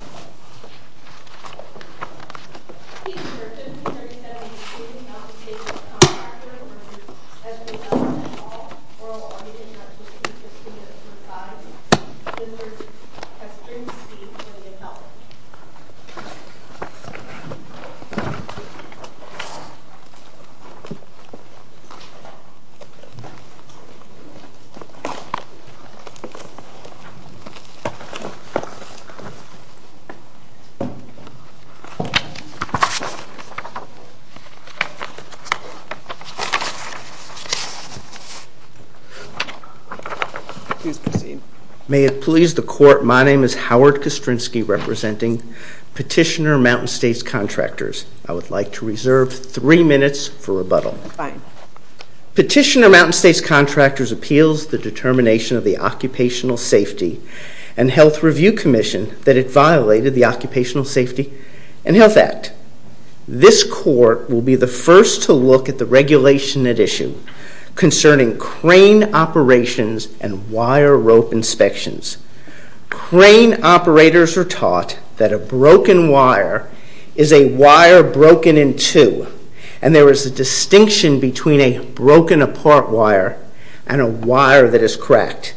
EG Not even thosehe who trust in darkness, would excuse their traumas from arresting her right, and have her found in a prison without friends if it depended on her which way she had come to. ground, lying there, seemingly still in tremble as though she could not move by the sobbing. The Maiden 含2 May it please the court, my name is Howard Kostrinsky representing Petitioner Mountain States Contractors. I would like to reserve three minutes for rebuttal. Fine. Petitioner Mountain States Contractors appeals the determination of the Occupational Safety and Health Review Commission that it violated the Occupational Safety and Health Act. This court will be the first to look at the regulation at issue concerning crane operations and wire rope inspections. Crane operators are taught that a broken wire is a between a broken apart wire and a wire that is cracked.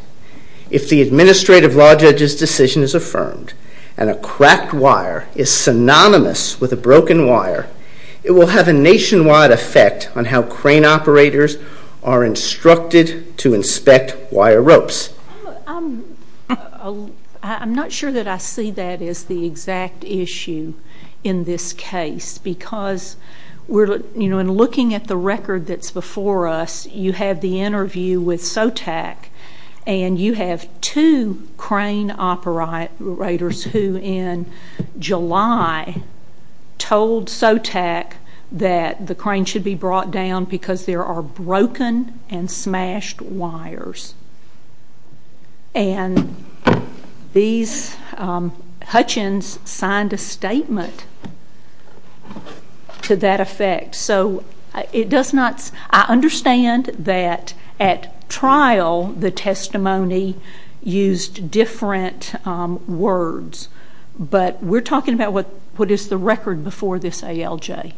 If the Administrative Law Judge's decision is affirmed and a cracked wire is synonymous with a broken wire, it will have a nationwide effect on how crane operators are instructed to inspect wire ropes. I'm not sure that I see that as the exact issue in this before us. You have the interview with SOTAC and you have two crane operators who in July told SOTAC that the crane should be brought down because there are broken and smashed wires. And these Hutchins signed a statement to that effect. I understand that at trial the testimony used different words, but we're talking about what is the record before this ALJ.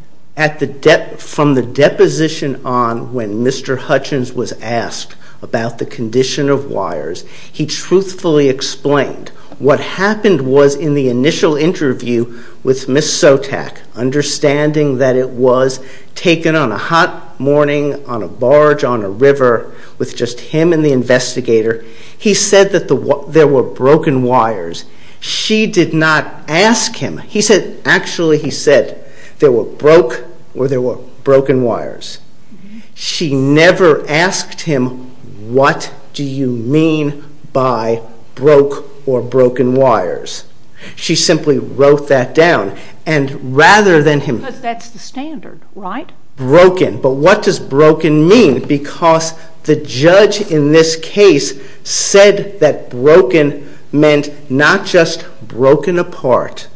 From the deposition on when Mr. Hutchins was asked about the condition of wires, he truthfully explained what happened was in the initial interview with Ms. SOTAC, understanding that it was taken on a hot morning, on a barge, on a river, with just him and the investigator. He said that there were broken wires. She did not ask him. He said, actually he said, there were broke or there were broken wires. She never asked him, what do you mean by broke or broken wires? She simply wrote that down. Because that's the standard, right? Broken. But what does broken mean? Because the judge in this case said that broken meant not just broken apart,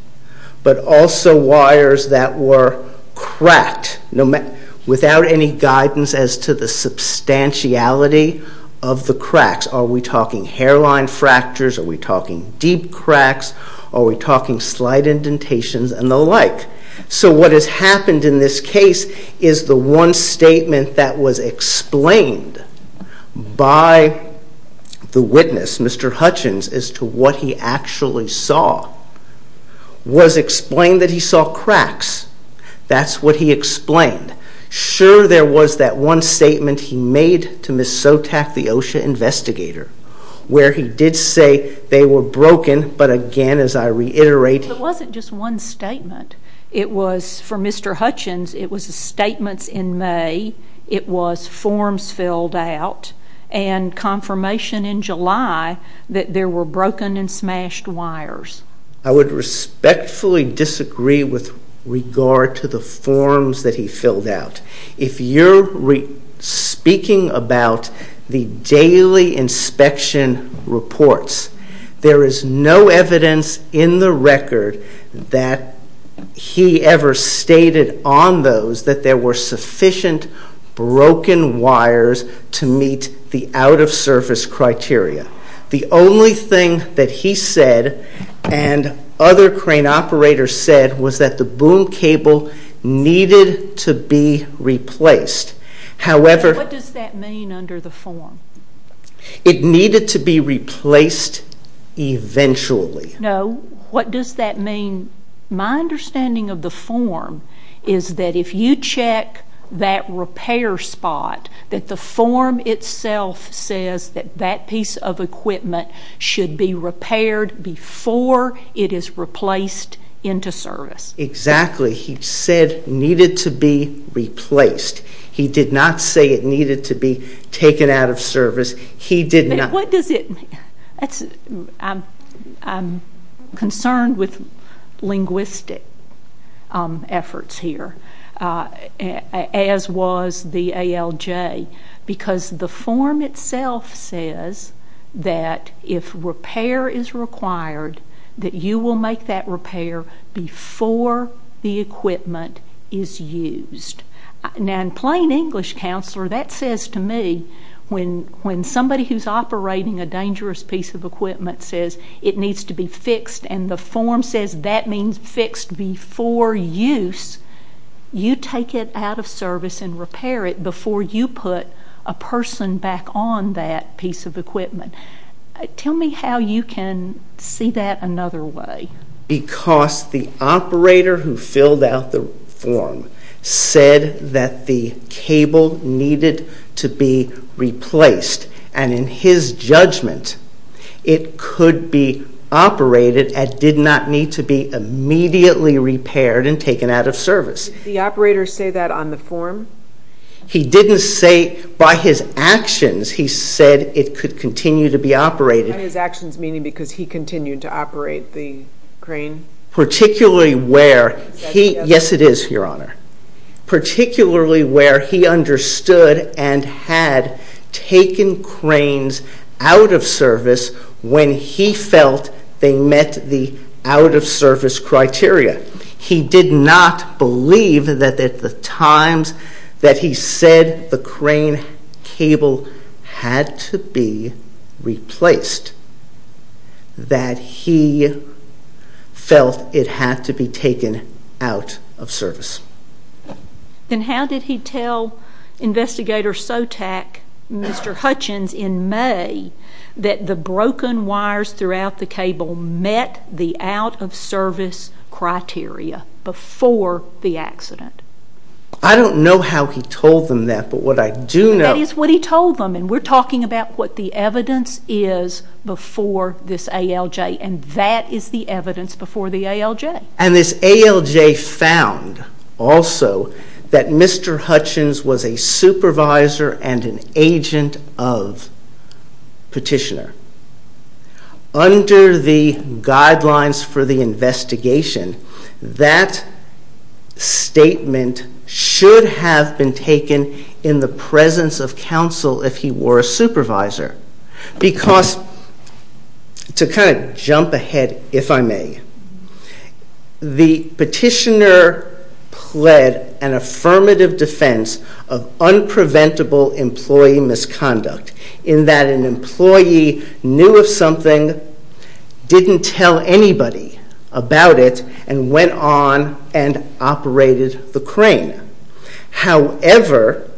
but also wires that were cracked without any guidance as to the substantiality of the cracks. Are we talking hairline fractures? Are we talking deep cracks? Are we talking slight indentations and the like? So what has happened in this case is the one statement that was explained by the witness, Mr. Hutchins, as to what he actually saw was explained that he saw cracks. That's what he explained. Sure, there was that one statement he made to Ms. SOTAC, the OSHA investigator, where he did say they were broken, but again, as I reiterate... It wasn't just one statement. It was, for Mr. Hutchins, it was statements in May, it was forms filled out, and confirmation in July that there were broken and smashed wires. I would respectfully disagree with regard to the forms that he filled out. If you're speaking about the daily inspection reports, there is no evidence in the record that he ever stated on those that there were sufficient broken wires to meet the out-of-surface criteria. The only thing that he said and other crane operators said was that the boom cable needed to be replaced. What does that mean under the form? It needed to be replaced eventually. No. What does that mean? My understanding of the form is that if you check that repair spot, that the form itself says that that piece of equipment should be repaired before it is replaced into service. Exactly. He said it needed to be replaced. He did not say it needed to be taken out of service. He did not. What does it mean? I'm concerned with linguistic efforts here, as was the ALJ, because the form itself says that if repair is required, that you will make that repair before the equipment is used. Now, in plain English, counselor, that says to me when somebody who's operating a dangerous piece of equipment says it needs to be fixed and the form says that means fixed before use, you take it out of service and repair it Tell me how you can see that another way. Because the operator who filled out the form said that the cable needed to be replaced, and in his judgment, it could be operated and did not need to be immediately repaired and taken out of service. Did the operator say that on the form? He didn't say. By his actions, he said it could continue to be operated. By his actions, meaning because he continued to operate the crane? Particularly where he understood and had taken cranes out of service when he felt they met the out-of-service criteria. He did not believe that at the times that he said the crane cable had to be replaced, that he felt it had to be taken out of service. Then how did he tell Investigator Sotak, Mr. Hutchins, in May, that the broken wires throughout the cable met the out-of-service criteria before the accident? I don't know how he told them that, but what I do know... That is what he told them, and we're talking about what the evidence is before this ALJ, and that is the evidence before the ALJ. And this ALJ found also that Mr. Hutchins was a supervisor and an agent of Petitioner. Under the guidelines for the investigation, that statement should have been taken in the presence of counsel if he were a supervisor. Because, to kind of jump ahead, if I may, the Petitioner pled an affirmative defense of unpreventable employee misconduct in that an employee knew of something, didn't tell anybody about it, and went on and operated the crane. However,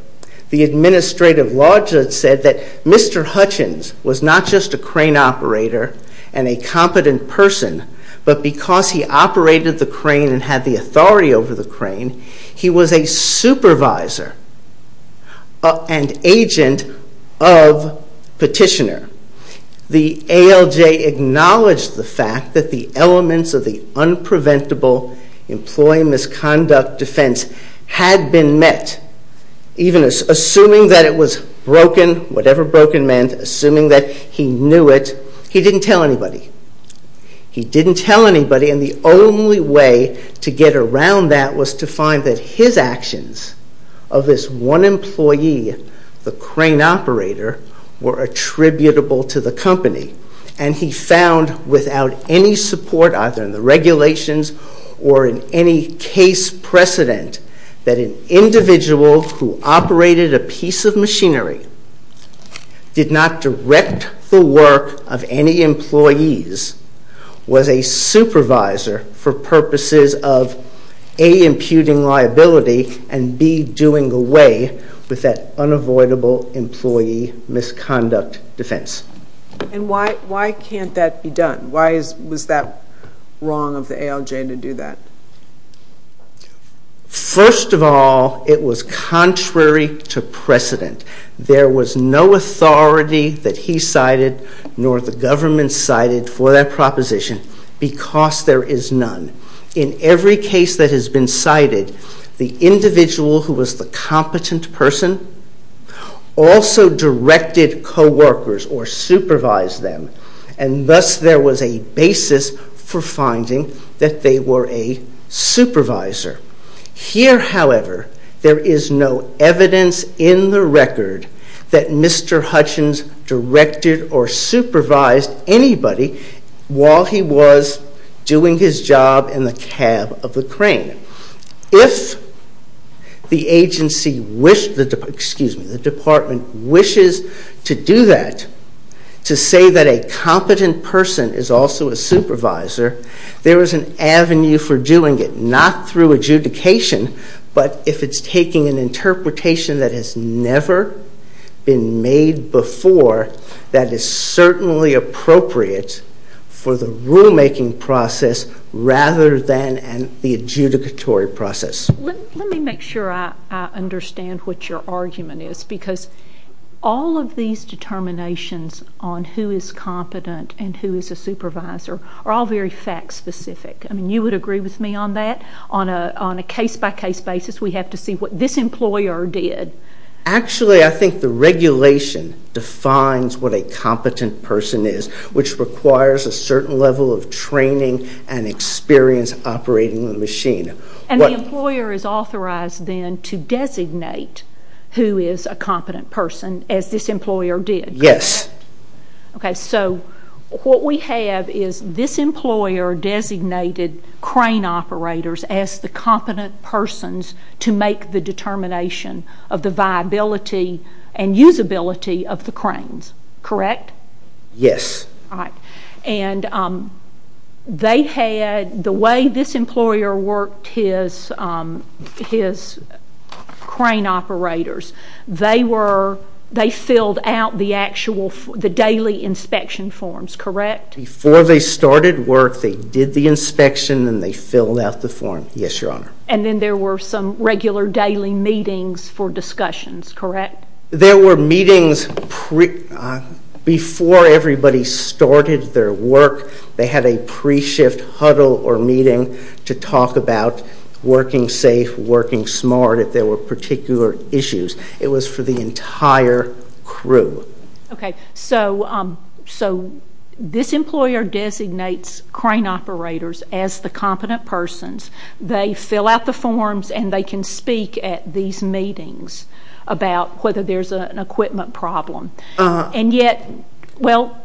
the administrative law judge said that Mr. Hutchins was not just a crane operator and a competent person, but because he operated the crane and had the authority over the crane, he was a supervisor and agent of Petitioner. The ALJ acknowledged the fact that the elements of the unpreventable employee misconduct defense had been met, even assuming that it was broken, whatever broken meant, assuming that he knew it, he didn't tell anybody. He didn't tell anybody, and the only way to get around that was to find that his actions of this one employee, the crane operator, were attributable to the company. And he found without any support, either in the regulations or in any case precedent, that an individual who operated a piece of machinery did not direct the work of any employees, was a supervisor for purposes of A, imputing liability, and B, doing away with that unavoidable employee misconduct defense. And why can't that be done? Why was that wrong of the ALJ to do that? First of all, it was contrary to precedent. There was no authority that he cited, nor the government cited for that proposition, because there is none. In every case that has been cited, the individual who was the competent person also directed co-workers or supervised them, and thus there was a basis for finding that they were a supervisor. Here, however, there is no evidence in the record that Mr. Hutchins directed or supervised anybody while he was doing his job in the cab of the crane. If the department wishes to do that, to say that a competent person is also a supervisor, there is an avenue for doing it, not through adjudication, but if it's taking an interpretation that has never been made before, that is certainly appropriate for the rulemaking process rather than the adjudicatory process. Let me make sure I understand what your argument is, because all of these determinations on who is competent and who is a supervisor are all very fact-specific. You would agree with me on that? On a case-by-case basis, we have to see what this employer did. Actually, I think the regulation defines what a competent person is, which requires a certain level of training and experience operating the machine. And the employer is authorized then to designate who is a competent person, as this employer did? Yes. Okay, so what we have is this employer designated crane operators as the competent persons to make the determination of the viability and usability of the cranes, correct? Yes. And they had, the way this employer worked his crane operators, they filled out the daily inspection forms, correct? Before they started work, they did the inspection and they filled out the form. Yes, Your Honor. And then there were some regular daily meetings for discussions, correct? There were meetings before everybody started their work. They had a pre-shift huddle or meeting to talk about working safe, working smart, if there were particular issues. It was for the entire crew. Okay, so this employer designates crane operators as the competent persons. They fill out the forms and they can speak at these meetings about whether there's an equipment problem. And yet, well,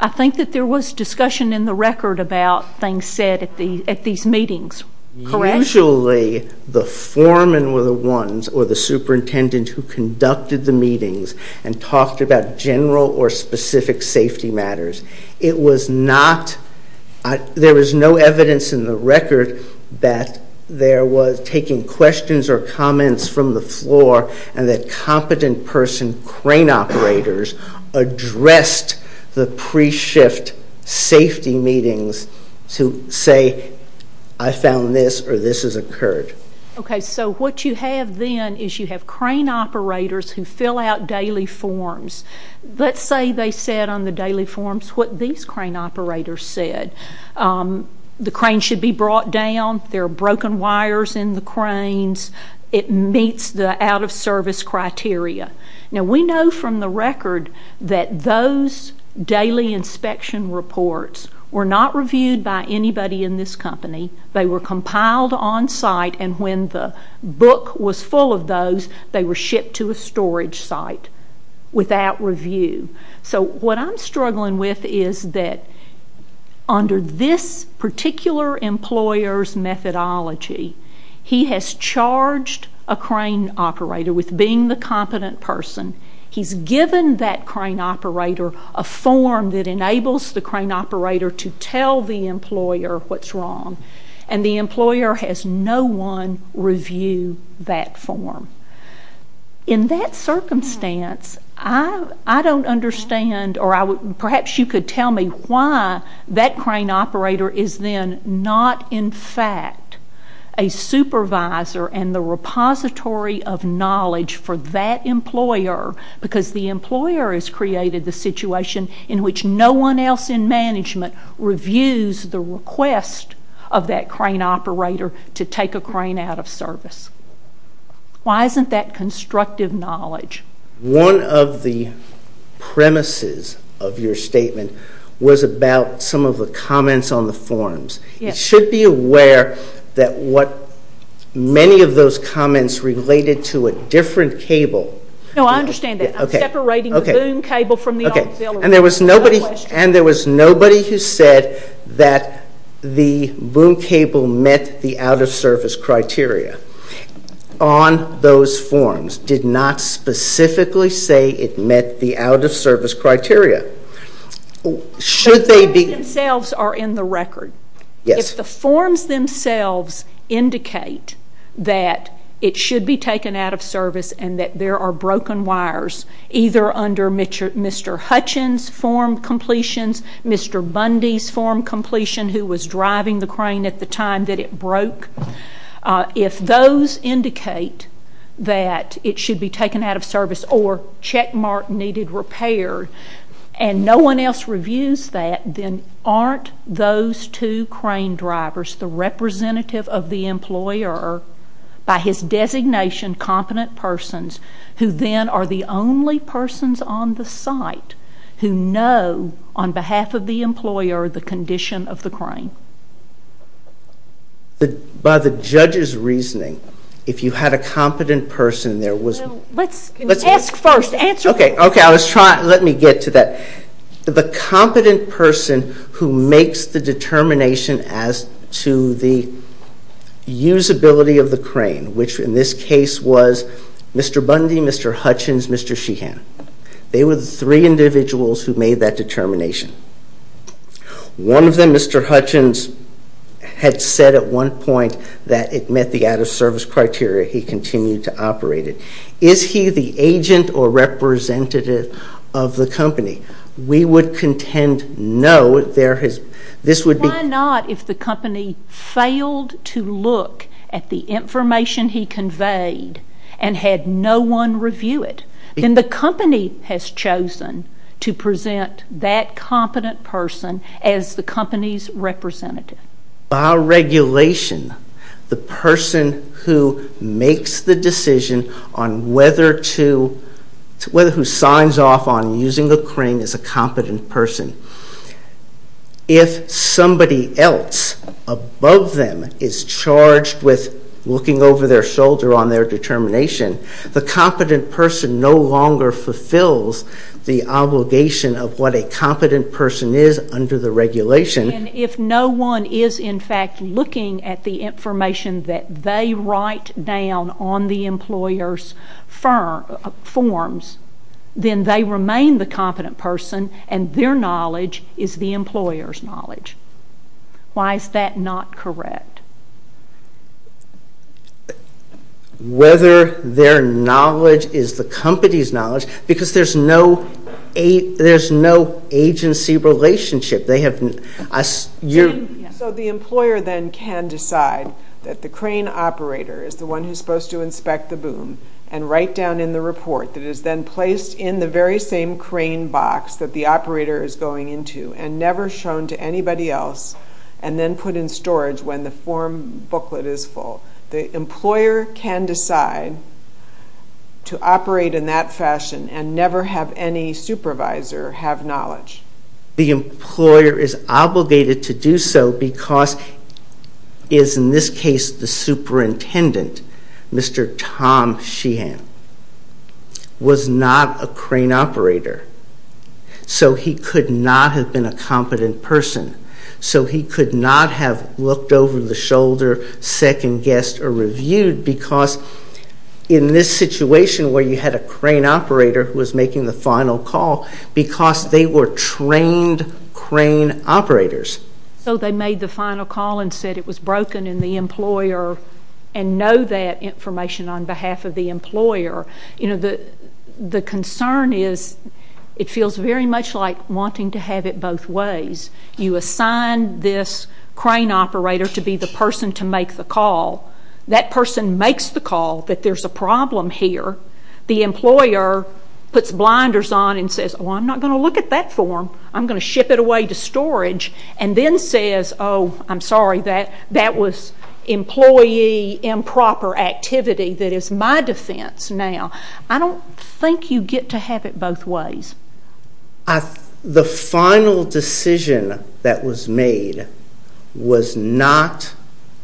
I think that there was discussion in the record about things said at these meetings, correct? Usually the foremen were the ones or the superintendent who conducted the meetings and talked about general or specific safety matters. It was not, there was no evidence in the record that there was taking questions or comments from the floor and that competent person crane operators addressed the pre-shift safety meetings to say, I found this or this has occurred. Okay, so what you have then is you have crane operators who fill out daily forms. Let's say they said on the daily forms what these crane operators said. The crane should be brought down, there are broken wires in the cranes, it meets the out-of-service criteria. Now, we know from the record that those daily inspection reports were not reviewed by anybody in this company. They were compiled on site and when the book was full of those, they were shipped to a storage site without review. So what I'm struggling with is that under this particular employer's methodology, he has charged a crane operator with being the competent person. He's given that crane operator a form that enables the crane operator to tell the employer what's wrong and the employer has no one review that form. In that circumstance, I don't understand or perhaps you could tell me why that crane operator is then not in fact a supervisor and the repository of knowledge for that employer because the employer has created the situation in which no one else in management reviews the request of that crane operator to take a crane out of service. Why isn't that constructive knowledge? One of the premises of your statement was about some of the comments on the forms. You should be aware that what many of those comments related to a different cable. No, I understand that. I'm separating the boom cable from the auxiliary. And there was nobody who said that the boom cable met the out-of-service criteria. On those forms, did not specifically say it met the out-of-service criteria. Should they be... The forms themselves are in the record. Yes. If the forms themselves indicate that it should be taken out of service and that there are broken wires either under Mr. Hutchins' form completions, Mr. Bundy's form completion who was driving the crane at the time that it broke, if those indicate that it should be taken out of service or checkmark needed repair and no one else reviews that, then aren't those two crane drivers the representative of the employer by his designation competent persons who then are the only persons on the site who know on behalf of the employer the condition of the crane? By the judge's reasoning, if you had a competent person there was... Let's ask first. Answer first. Okay. Let me get to that. The competent person who makes the determination as to the usability of the crane, which in this case was Mr. Bundy, Mr. Hutchins, Mr. Sheehan. They were the three individuals who made that determination. One of them, Mr. Hutchins, had said at one point that it met the out-of-service criteria. He continued to operate it. Is he the agent or representative of the company? We would contend no. Why not if the company failed to look at the information he conveyed and had no one review it? Then the company has chosen to present that competent person as the company's representative. By regulation, the person who makes the decision on whether to... who signs off on using the crane is a competent person. If somebody else above them is charged with looking over their shoulder on their determination, the competent person no longer fulfills the obligation of what a competent person is under the regulation. If no one is in fact looking at the information that they write down on the employer's forms, then they remain the competent person and their knowledge is the employer's knowledge. Why is that not correct? Whether their knowledge is the company's knowledge, because there's no agency relationship. So the employer then can decide that the crane operator is the one who's supposed to inspect the boom and write down in the report that is then placed in the very same crane box that the operator is going into and never shown to anybody else and then put in storage when the form booklet is full. The employer can decide to operate in that fashion and never have any supervisor have knowledge. The employer is obligated to do so because, in this case, the superintendent, Mr. Tom Sheehan, was not a crane operator. So he could not have been a competent person. So he could not have looked over the shoulder, second-guessed, or reviewed because, in this situation where you had a crane operator who was making the final call, because they were trained crane operators. So they made the final call and said it was broken and the employer, and know that information on behalf of the employer. The concern is it feels very much like wanting to have it both ways. You assign this crane operator to be the person to make the call. That person makes the call that there's a problem here. The employer puts blinders on and says, Oh, I'm not going to look at that form. I'm going to ship it away to storage. And then says, Oh, I'm sorry, that was employee improper activity. That is my defense now. I don't think you get to have it both ways. The final decision that was made was not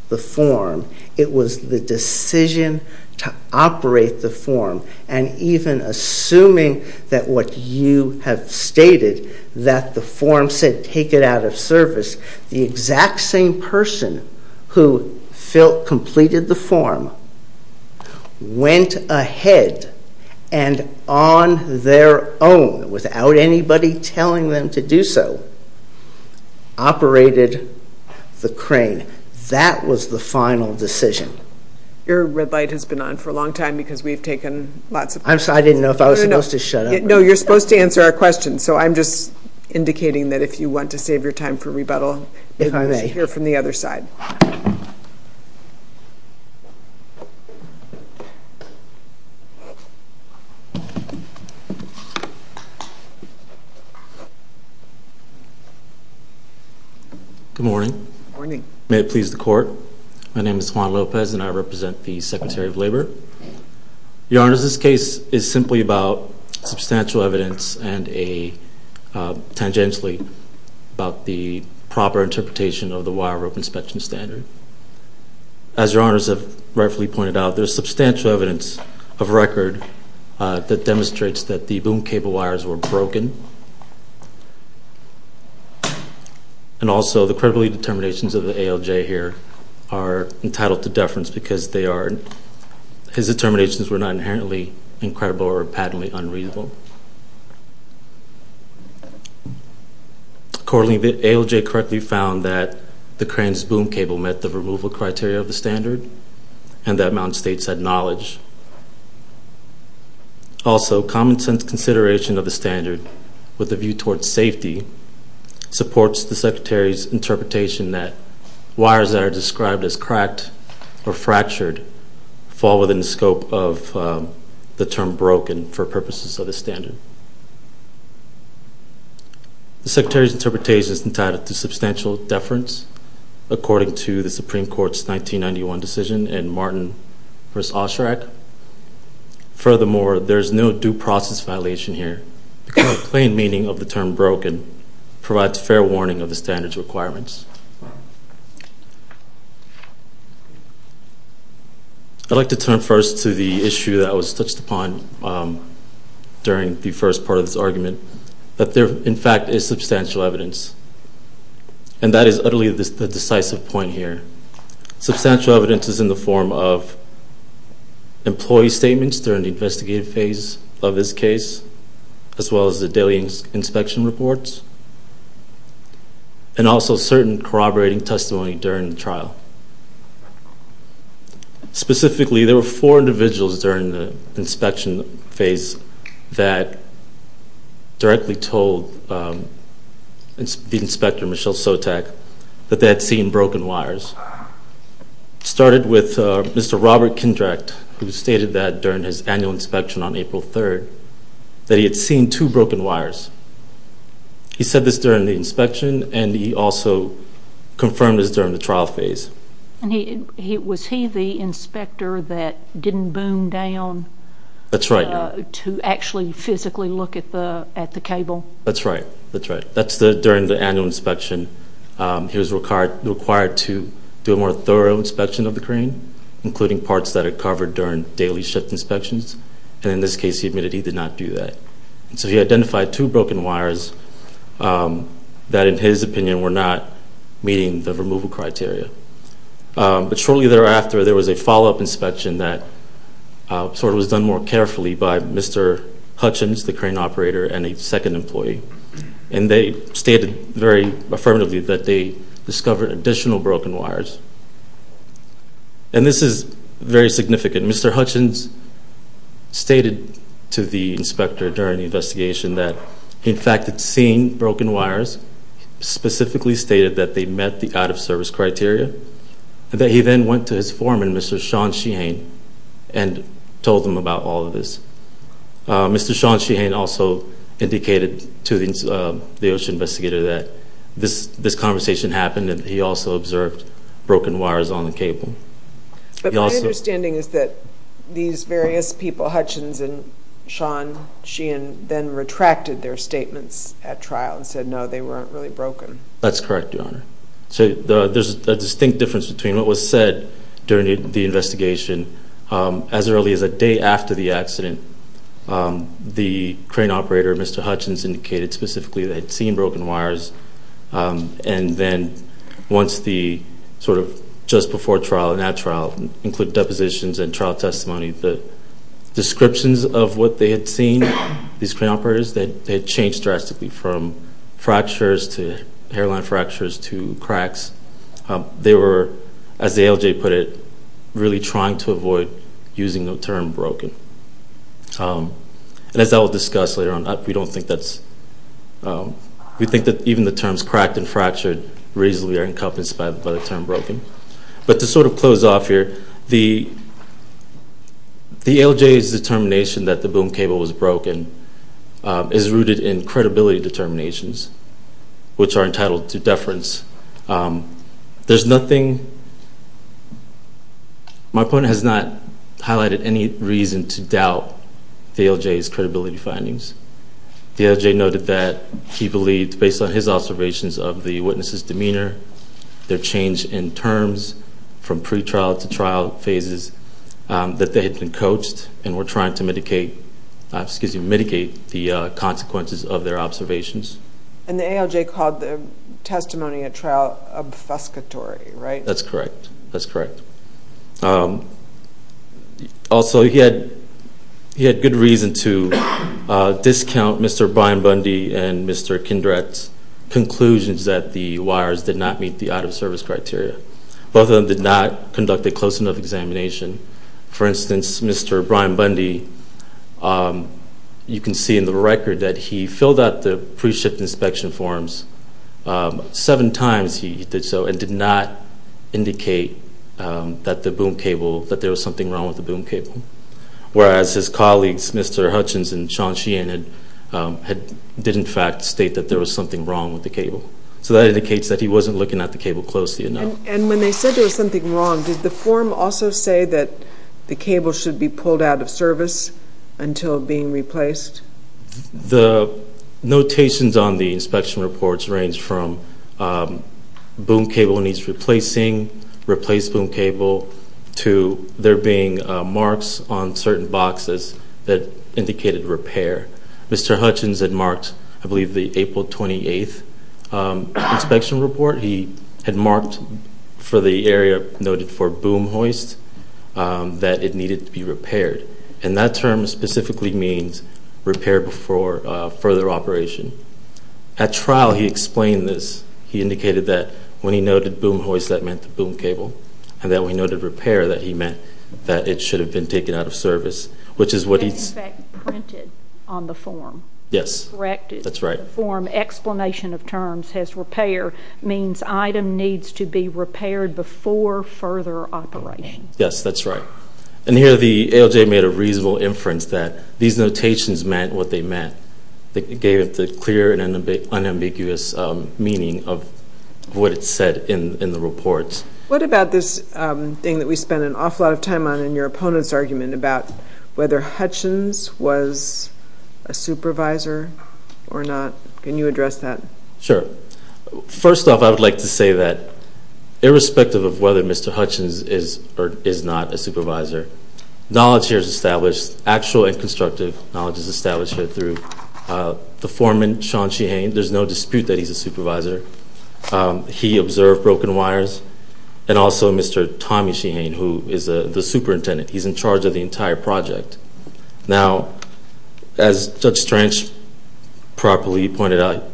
the form. It was the decision to operate the form. And even assuming that what you have stated, that the form said take it out of service, the exact same person who completed the form, went ahead and on their own, without anybody telling them to do so, operated the crane. That was the final decision. Your red light has been on for a long time because we've taken lots of questions. I'm sorry, I didn't know if I was supposed to shut up. No, you're supposed to answer our questions. So I'm just indicating that if you want to save your time for rebuttal, you should hear from the other side. Good morning. May it please the court. My name is Juan Lopez, and I represent the Secretary of Labor. Your Honors, this case is simply about substantial evidence, and tangentially about the proper interpretation of the wire rope inspection standard. As Your Honors have rightfully pointed out, there's substantial evidence of record that demonstrates that the boom cable wires were broken. And also, the credibility determinations of the ALJ here are entitled to deference because his determinations were not inherently incredible or patently unreasonable. Accordingly, the ALJ correctly found that the crane's boom cable met the removal criteria of the standard, Also, common sense consideration of the standard with a view towards safety supports the Secretary's interpretation that wires that are described as cracked or fractured fall within the scope of the term broken for purposes of the standard. The Secretary's interpretation is entitled to substantial deference according to the Supreme Court's 1991 decision in Martin v. Osherak. Furthermore, there is no due process violation here, because the plain meaning of the term broken provides fair warning of the standard's requirements. I'd like to turn first to the issue that was touched upon during the first part of this argument, that there, in fact, is substantial evidence, and that is utterly the decisive point here. Substantial evidence is in the form of employee statements during the investigative phase of this case, as well as the daily inspection reports, and also certain corroborating testimony during the trial. Specifically, there were four individuals during the inspection phase that directly told the inspector, Michelle Sotak, that they had seen broken wires. It started with Mr. Robert Kindrecht, who stated that during his annual inspection on April 3rd, that he had seen two broken wires. He said this during the inspection, and he also confirmed this during the trial phase. Was he the inspector that didn't boom down to actually physically look at the cable? That's right. That's right. During the annual inspection, he was required to do a more thorough inspection of the crane, including parts that are covered during daily shift inspections, and in this case, he admitted he did not do that. So he identified two broken wires that, in his opinion, were not meeting the removal criteria. But shortly thereafter, there was a follow-up inspection that sort of was done more carefully by Mr. Hutchins, the crane operator, and a second employee, and they stated very affirmatively that they discovered additional broken wires. And this is very significant. Mr. Hutchins stated to the inspector during the investigation that he, in fact, had seen broken wires, specifically stated that they met the out-of-service criteria, and that he then went to his foreman, Mr. Sean Sheehane, and told him about all of this. Mr. Sean Sheehane also indicated to the OSHA investigator that this conversation happened, and he also observed broken wires on the cable. But my understanding is that these various people, Hutchins and Sean Sheehane, then retracted their statements at trial and said, no, they weren't really broken. That's correct, Your Honor. So there's a distinct difference between what was said during the investigation. As early as a day after the accident, the crane operator, Mr. Hutchins, indicated specifically that he had seen broken wires, and then once the sort of just before trial and at trial, include depositions and trial testimony, the descriptions of what they had seen, these crane operators, they had changed drastically from fractures to hairline fractures to cracks. They were, as the ALJ put it, really trying to avoid using the term broken. And as I will discuss later on, we don't think that's – we think that even the terms cracked and fractured reasonably are encompassed by the term broken. But to sort of close off here, the ALJ's determination that the boom cable was broken is rooted in credibility determinations, which are entitled to deference. There's nothing – my opponent has not highlighted any reason to doubt the ALJ's credibility findings. The ALJ noted that he believed, based on his observations of the witnesses' demeanor, their change in terms from pretrial to trial phases, that they had been coached and were trying to mitigate the consequences of their observations. And the ALJ called the testimony at trial obfuscatory, right? That's correct. That's correct. Also, he had good reason to discount Mr. Brian Bundy and Mr. Kindrecht's conclusions that the wires did not meet the out-of-service criteria. Both of them did not conduct a close enough examination. For instance, Mr. Brian Bundy, you can see in the record that he filled out the pre-shift inspection forms seven times he did so and did not indicate that there was something wrong with the boom cable. Whereas his colleagues, Mr. Hutchins and Sean Sheehan, did in fact state that there was something wrong with the cable. So that indicates that he wasn't looking at the cable closely enough. And when they said there was something wrong, did the form also say that the cable should be pulled out of service until being replaced? The notations on the inspection reports range from boom cable needs replacing, replace boom cable, to there being marks on certain boxes that indicated repair. Mr. Hutchins had marked, I believe, the April 28th inspection report. He had marked for the area noted for boom hoist that it needed to be repaired. And that term specifically means repair before further operation. At trial he explained this. He indicated that when he noted boom hoist that meant the boom cable and that when he noted repair that he meant that it should have been taken out of service, which is what he said. That's in fact printed on the form. Yes. Corrected. That's right. The form explanation of terms has repair means item needs to be repaired before further operation. Yes, that's right. And here the ALJ made a reasonable inference that these notations meant what they meant. They gave it the clear and unambiguous meaning of what it said in the reports. What about this thing that we spend an awful lot of time on in your opponent's argument about whether Hutchins was a supervisor or not? Can you address that? Sure. First off, I would like to say that irrespective of whether Mr. Hutchins is or is not a supervisor, knowledge here is established, actual and constructive knowledge is established here through the foreman, Sean Sheehane. There's no dispute that he's a supervisor. He observed broken wires, and also Mr. Tommy Sheehane, who is the superintendent. He's in charge of the entire project. Now, as Judge Strange properly pointed out,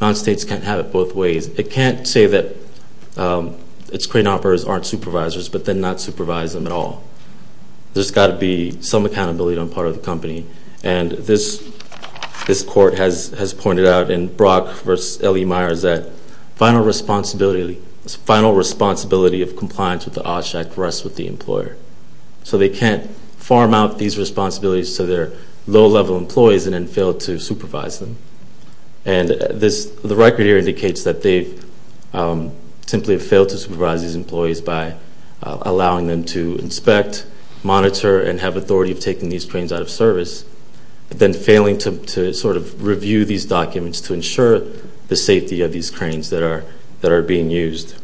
non-states can't have it both ways. It can't say that its crane operators aren't supervisors but then not supervise them at all. There's got to be some accountability on the part of the company. And this court has pointed out in Brock v. L.E. Myers that final responsibility of compliance with the OSHAC rests with the employer. So they can't farm out these responsibilities to their low-level employees and then fail to supervise them. And the record here indicates that they've simply failed to supervise these employees by allowing them to inspect, monitor, and have authority of taking these cranes out of service, then failing to sort of review these documents to ensure the safety of these cranes that are being used.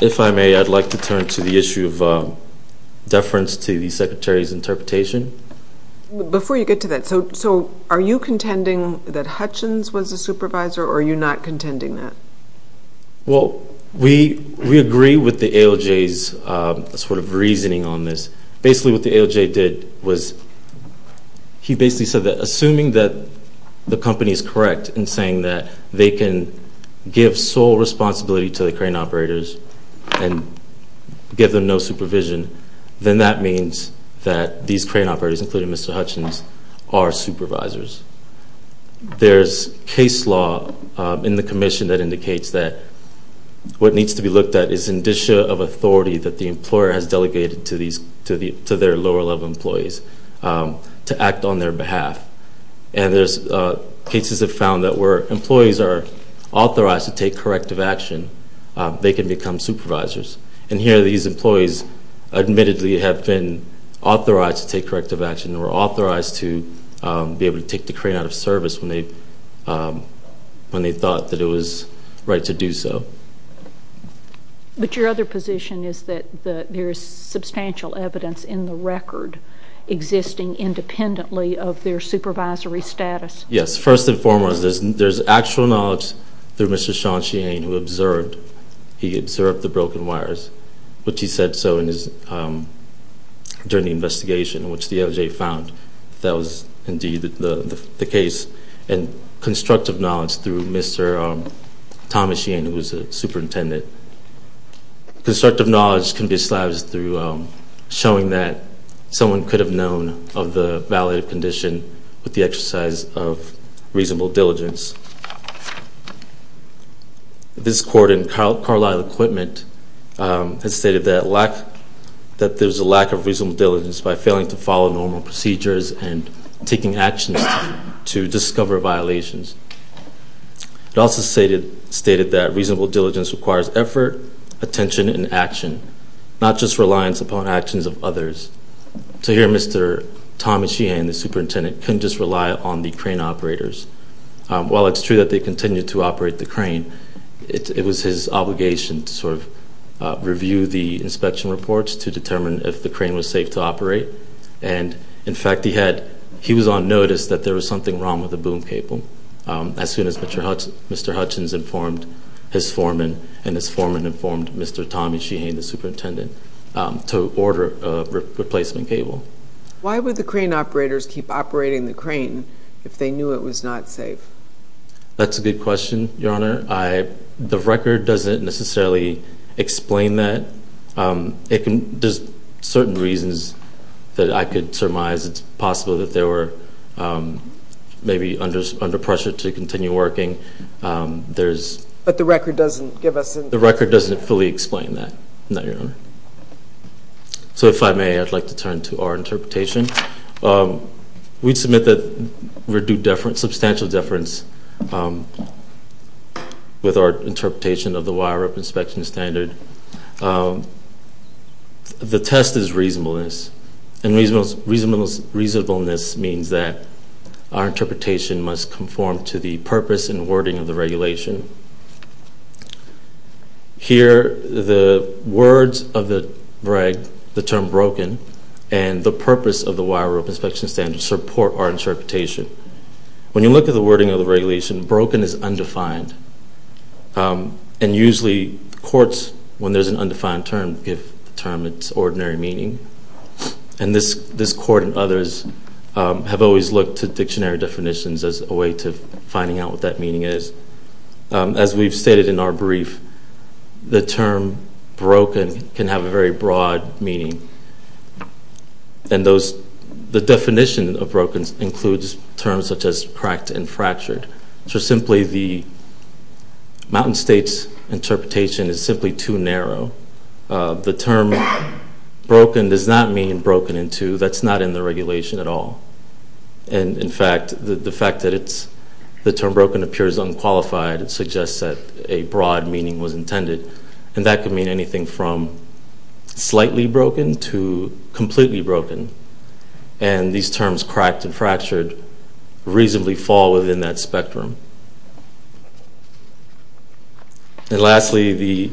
If I may, I'd like to turn to the issue of deference to the Secretary's interpretation. Before you get to that, so are you contending that Hutchins was a supervisor or are you not contending that? Well, we agree with the ALJ's sort of reasoning on this. Basically what the ALJ did was he basically said that assuming that the company is correct in saying that they can give sole responsibility to the crane operators and give them no supervision, then that means that these crane operators, including Mr. Hutchins, are supervisors. There's case law in the commission that indicates that what needs to be looked at is indicia of authority that the employer has delegated to their lower-level employees to act on their behalf. And there's cases that found that where employees are authorized to take corrective action, they can become supervisors. And here these employees admittedly have been authorized to take corrective action or authorized to be able to take the crane out of service when they thought that it was right to do so. But your other position is that there is substantial evidence in the record existing independently of their supervisory status. Yes, first and foremost, there's actual knowledge through Mr. Sean Sheehan who observed the broken wires, which he said so during the investigation, which the ALJ found that was indeed the case, and constructive knowledge through Mr. Thomas Sheehan, who was the superintendent. Constructive knowledge can be established through showing that someone could have known of the valid condition with the exercise of reasonable diligence. This court in Carlisle Equipment has stated that there's a lack of reasonable diligence by failing to follow normal procedures and taking actions to discover violations. It also stated that reasonable diligence requires effort, attention, and action, not just reliance upon actions of others. So here Mr. Thomas Sheehan, the superintendent, couldn't just rely on the crane operators. While it's true that they continued to operate the crane, it was his obligation to sort of review the inspection reports to determine if the crane was safe to operate. And, in fact, he was on notice that there was something wrong with the boom cable. As soon as Mr. Hutchins informed his foreman, and his foreman informed Mr. Thomas Sheehan, the superintendent, to order a replacement cable. Why would the crane operators keep operating the crane if they knew it was not safe? That's a good question, Your Honor. The record doesn't necessarily explain that. There's certain reasons that I could surmise. It's possible that they were maybe under pressure to continue working. But the record doesn't give us an answer. The record doesn't fully explain that, no, Your Honor. So if I may, I'd like to turn to our interpretation. We submit that we're due substantial deference with our interpretation of the wire rope inspection standard. The test is reasonableness. And reasonableness means that our interpretation must conform to the purpose and wording of the regulation. Here, the words of the reg, the term broken, and the purpose of the wire rope inspection standard support our interpretation. When you look at the wording of the regulation, broken is undefined. And usually courts, when there's an undefined term, give the term its ordinary meaning. And this court and others have always looked to dictionary definitions as a way to finding out what that meaning is. As we've stated in our brief, the term broken can have a very broad meaning. And the definition of broken includes terms such as cracked and fractured. So simply the Mountain State's interpretation is simply too narrow. The term broken does not mean broken in two. That's not in the regulation at all. And, in fact, the fact that the term broken appears unqualified suggests that a broad meaning was intended. And that could mean anything from slightly broken to completely broken. And these terms, cracked and fractured, reasonably fall within that spectrum. And lastly,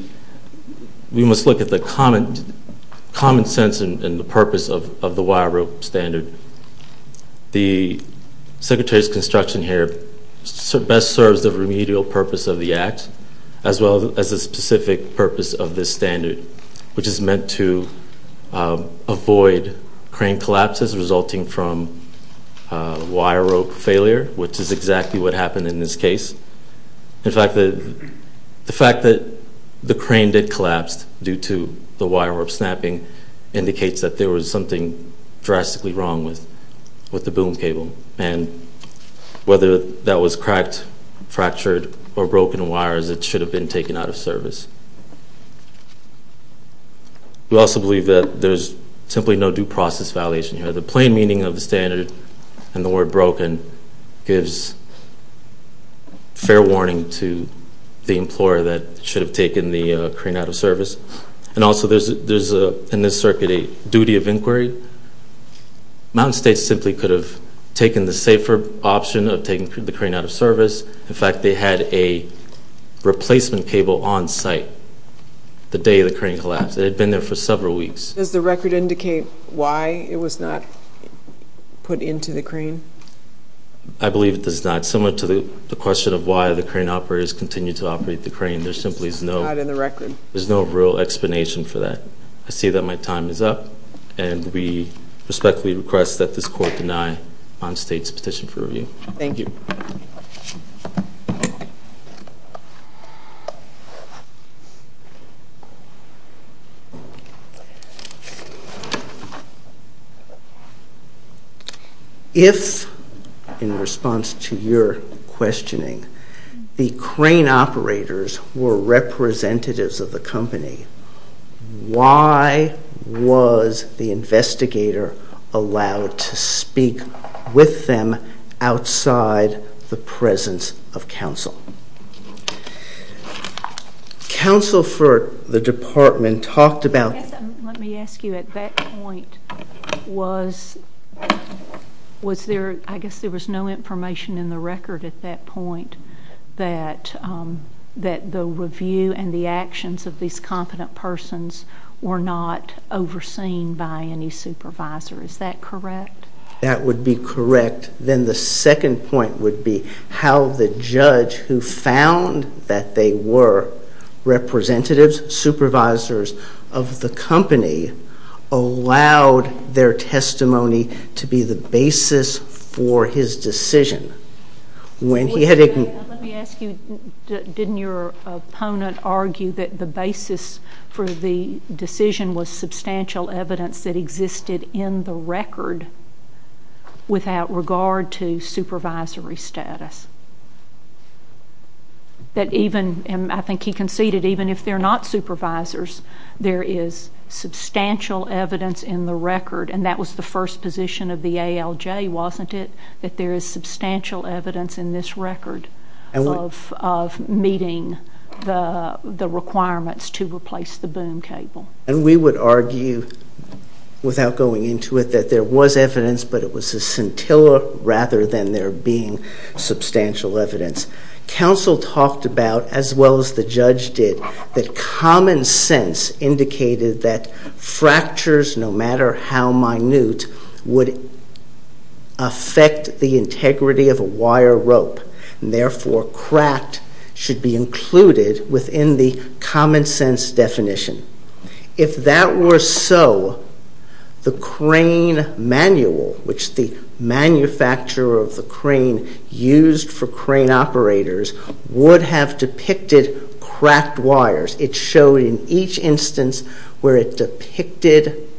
we must look at the common sense and the purpose of the wire rope standard. The Secretary's construction here best serves the remedial purpose of the Act as well as the specific purpose of this standard, which is meant to avoid crane collapses resulting from wire rope failure, which is exactly what happened in this case. In fact, the fact that the crane did collapse due to the wire rope snapping indicates that there was something drastically wrong with the boom cable. And whether that was cracked, fractured, or broken wires, it should have been taken out of service. We also believe that there's simply no due process violation here. The plain meaning of the standard and the word broken gives fair warning to the employer that it should have taken the crane out of service. And also there's, in this circuit, a duty of inquiry. Mountain State simply could have taken the safer option of taking the crane out of service. In fact, they had a replacement cable on site the day the crane collapsed. It had been there for several weeks. Does the record indicate why it was not put into the crane? I believe it does not. Similar to the question of why the crane operators continue to operate the crane, there simply is no real explanation for that. I see that my time is up. And we respectfully request that this Court deny Mountain State's petition for review. Thank you. If, in response to your questioning, the crane operators were representatives of the company, why was the investigator allowed to speak with them outside the presence of counsel? Counsel for the department talked about... Let me ask you. At that point, I guess there was no information in the record at that point that the review and the actions of these competent persons were not overseen by any supervisor. Is that correct? That would be correct. Then the second point would be how the judge who found that they were representatives, supervisors of the company, allowed their testimony to be the basis for his decision. When he had... Let me ask you. Didn't your opponent argue that the basis for the decision was substantial evidence that existed in the record without regard to supervisory status? That even... And I think he conceded even if they're not supervisors, there is substantial evidence in the record, and that was the first position of the ALJ, wasn't it? That there is substantial evidence in this record of meeting the requirements to replace the boom cable. And we would argue, without going into it, that there was evidence, but it was a scintilla rather than there being substantial evidence. Counsel talked about, as well as the judge did, that common sense indicated that fractures, no matter how minute, would affect the integrity of a wire rope, and therefore cracked should be included within the common sense definition. If that were so, the crane manual, which the manufacturer of the crane used for crane operators, would have depicted cracked wires. It showed in each instance where it depicted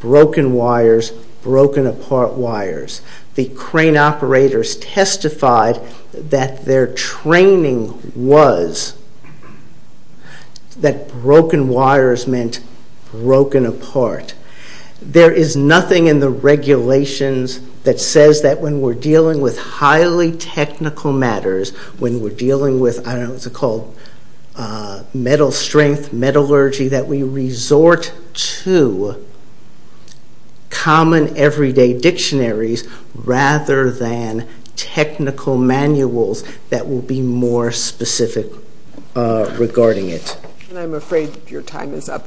broken wires, broken apart wires. The crane operators testified that their training was that broken wires meant broken apart. There is nothing in the regulations that says that when we're dealing with highly technical matters, when we're dealing with, I don't know what it's called, metal strength, metallurgy, that we resort to common everyday dictionaries rather than technical manuals that will be more specific regarding it. I'm afraid your time is up.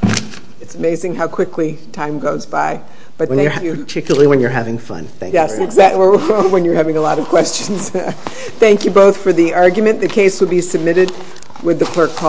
It's amazing how quickly time goes by. Particularly when you're having fun. Yes, exactly. When you're having a lot of questions. Thank you both for the argument. The case will be submitted with the clerk calling.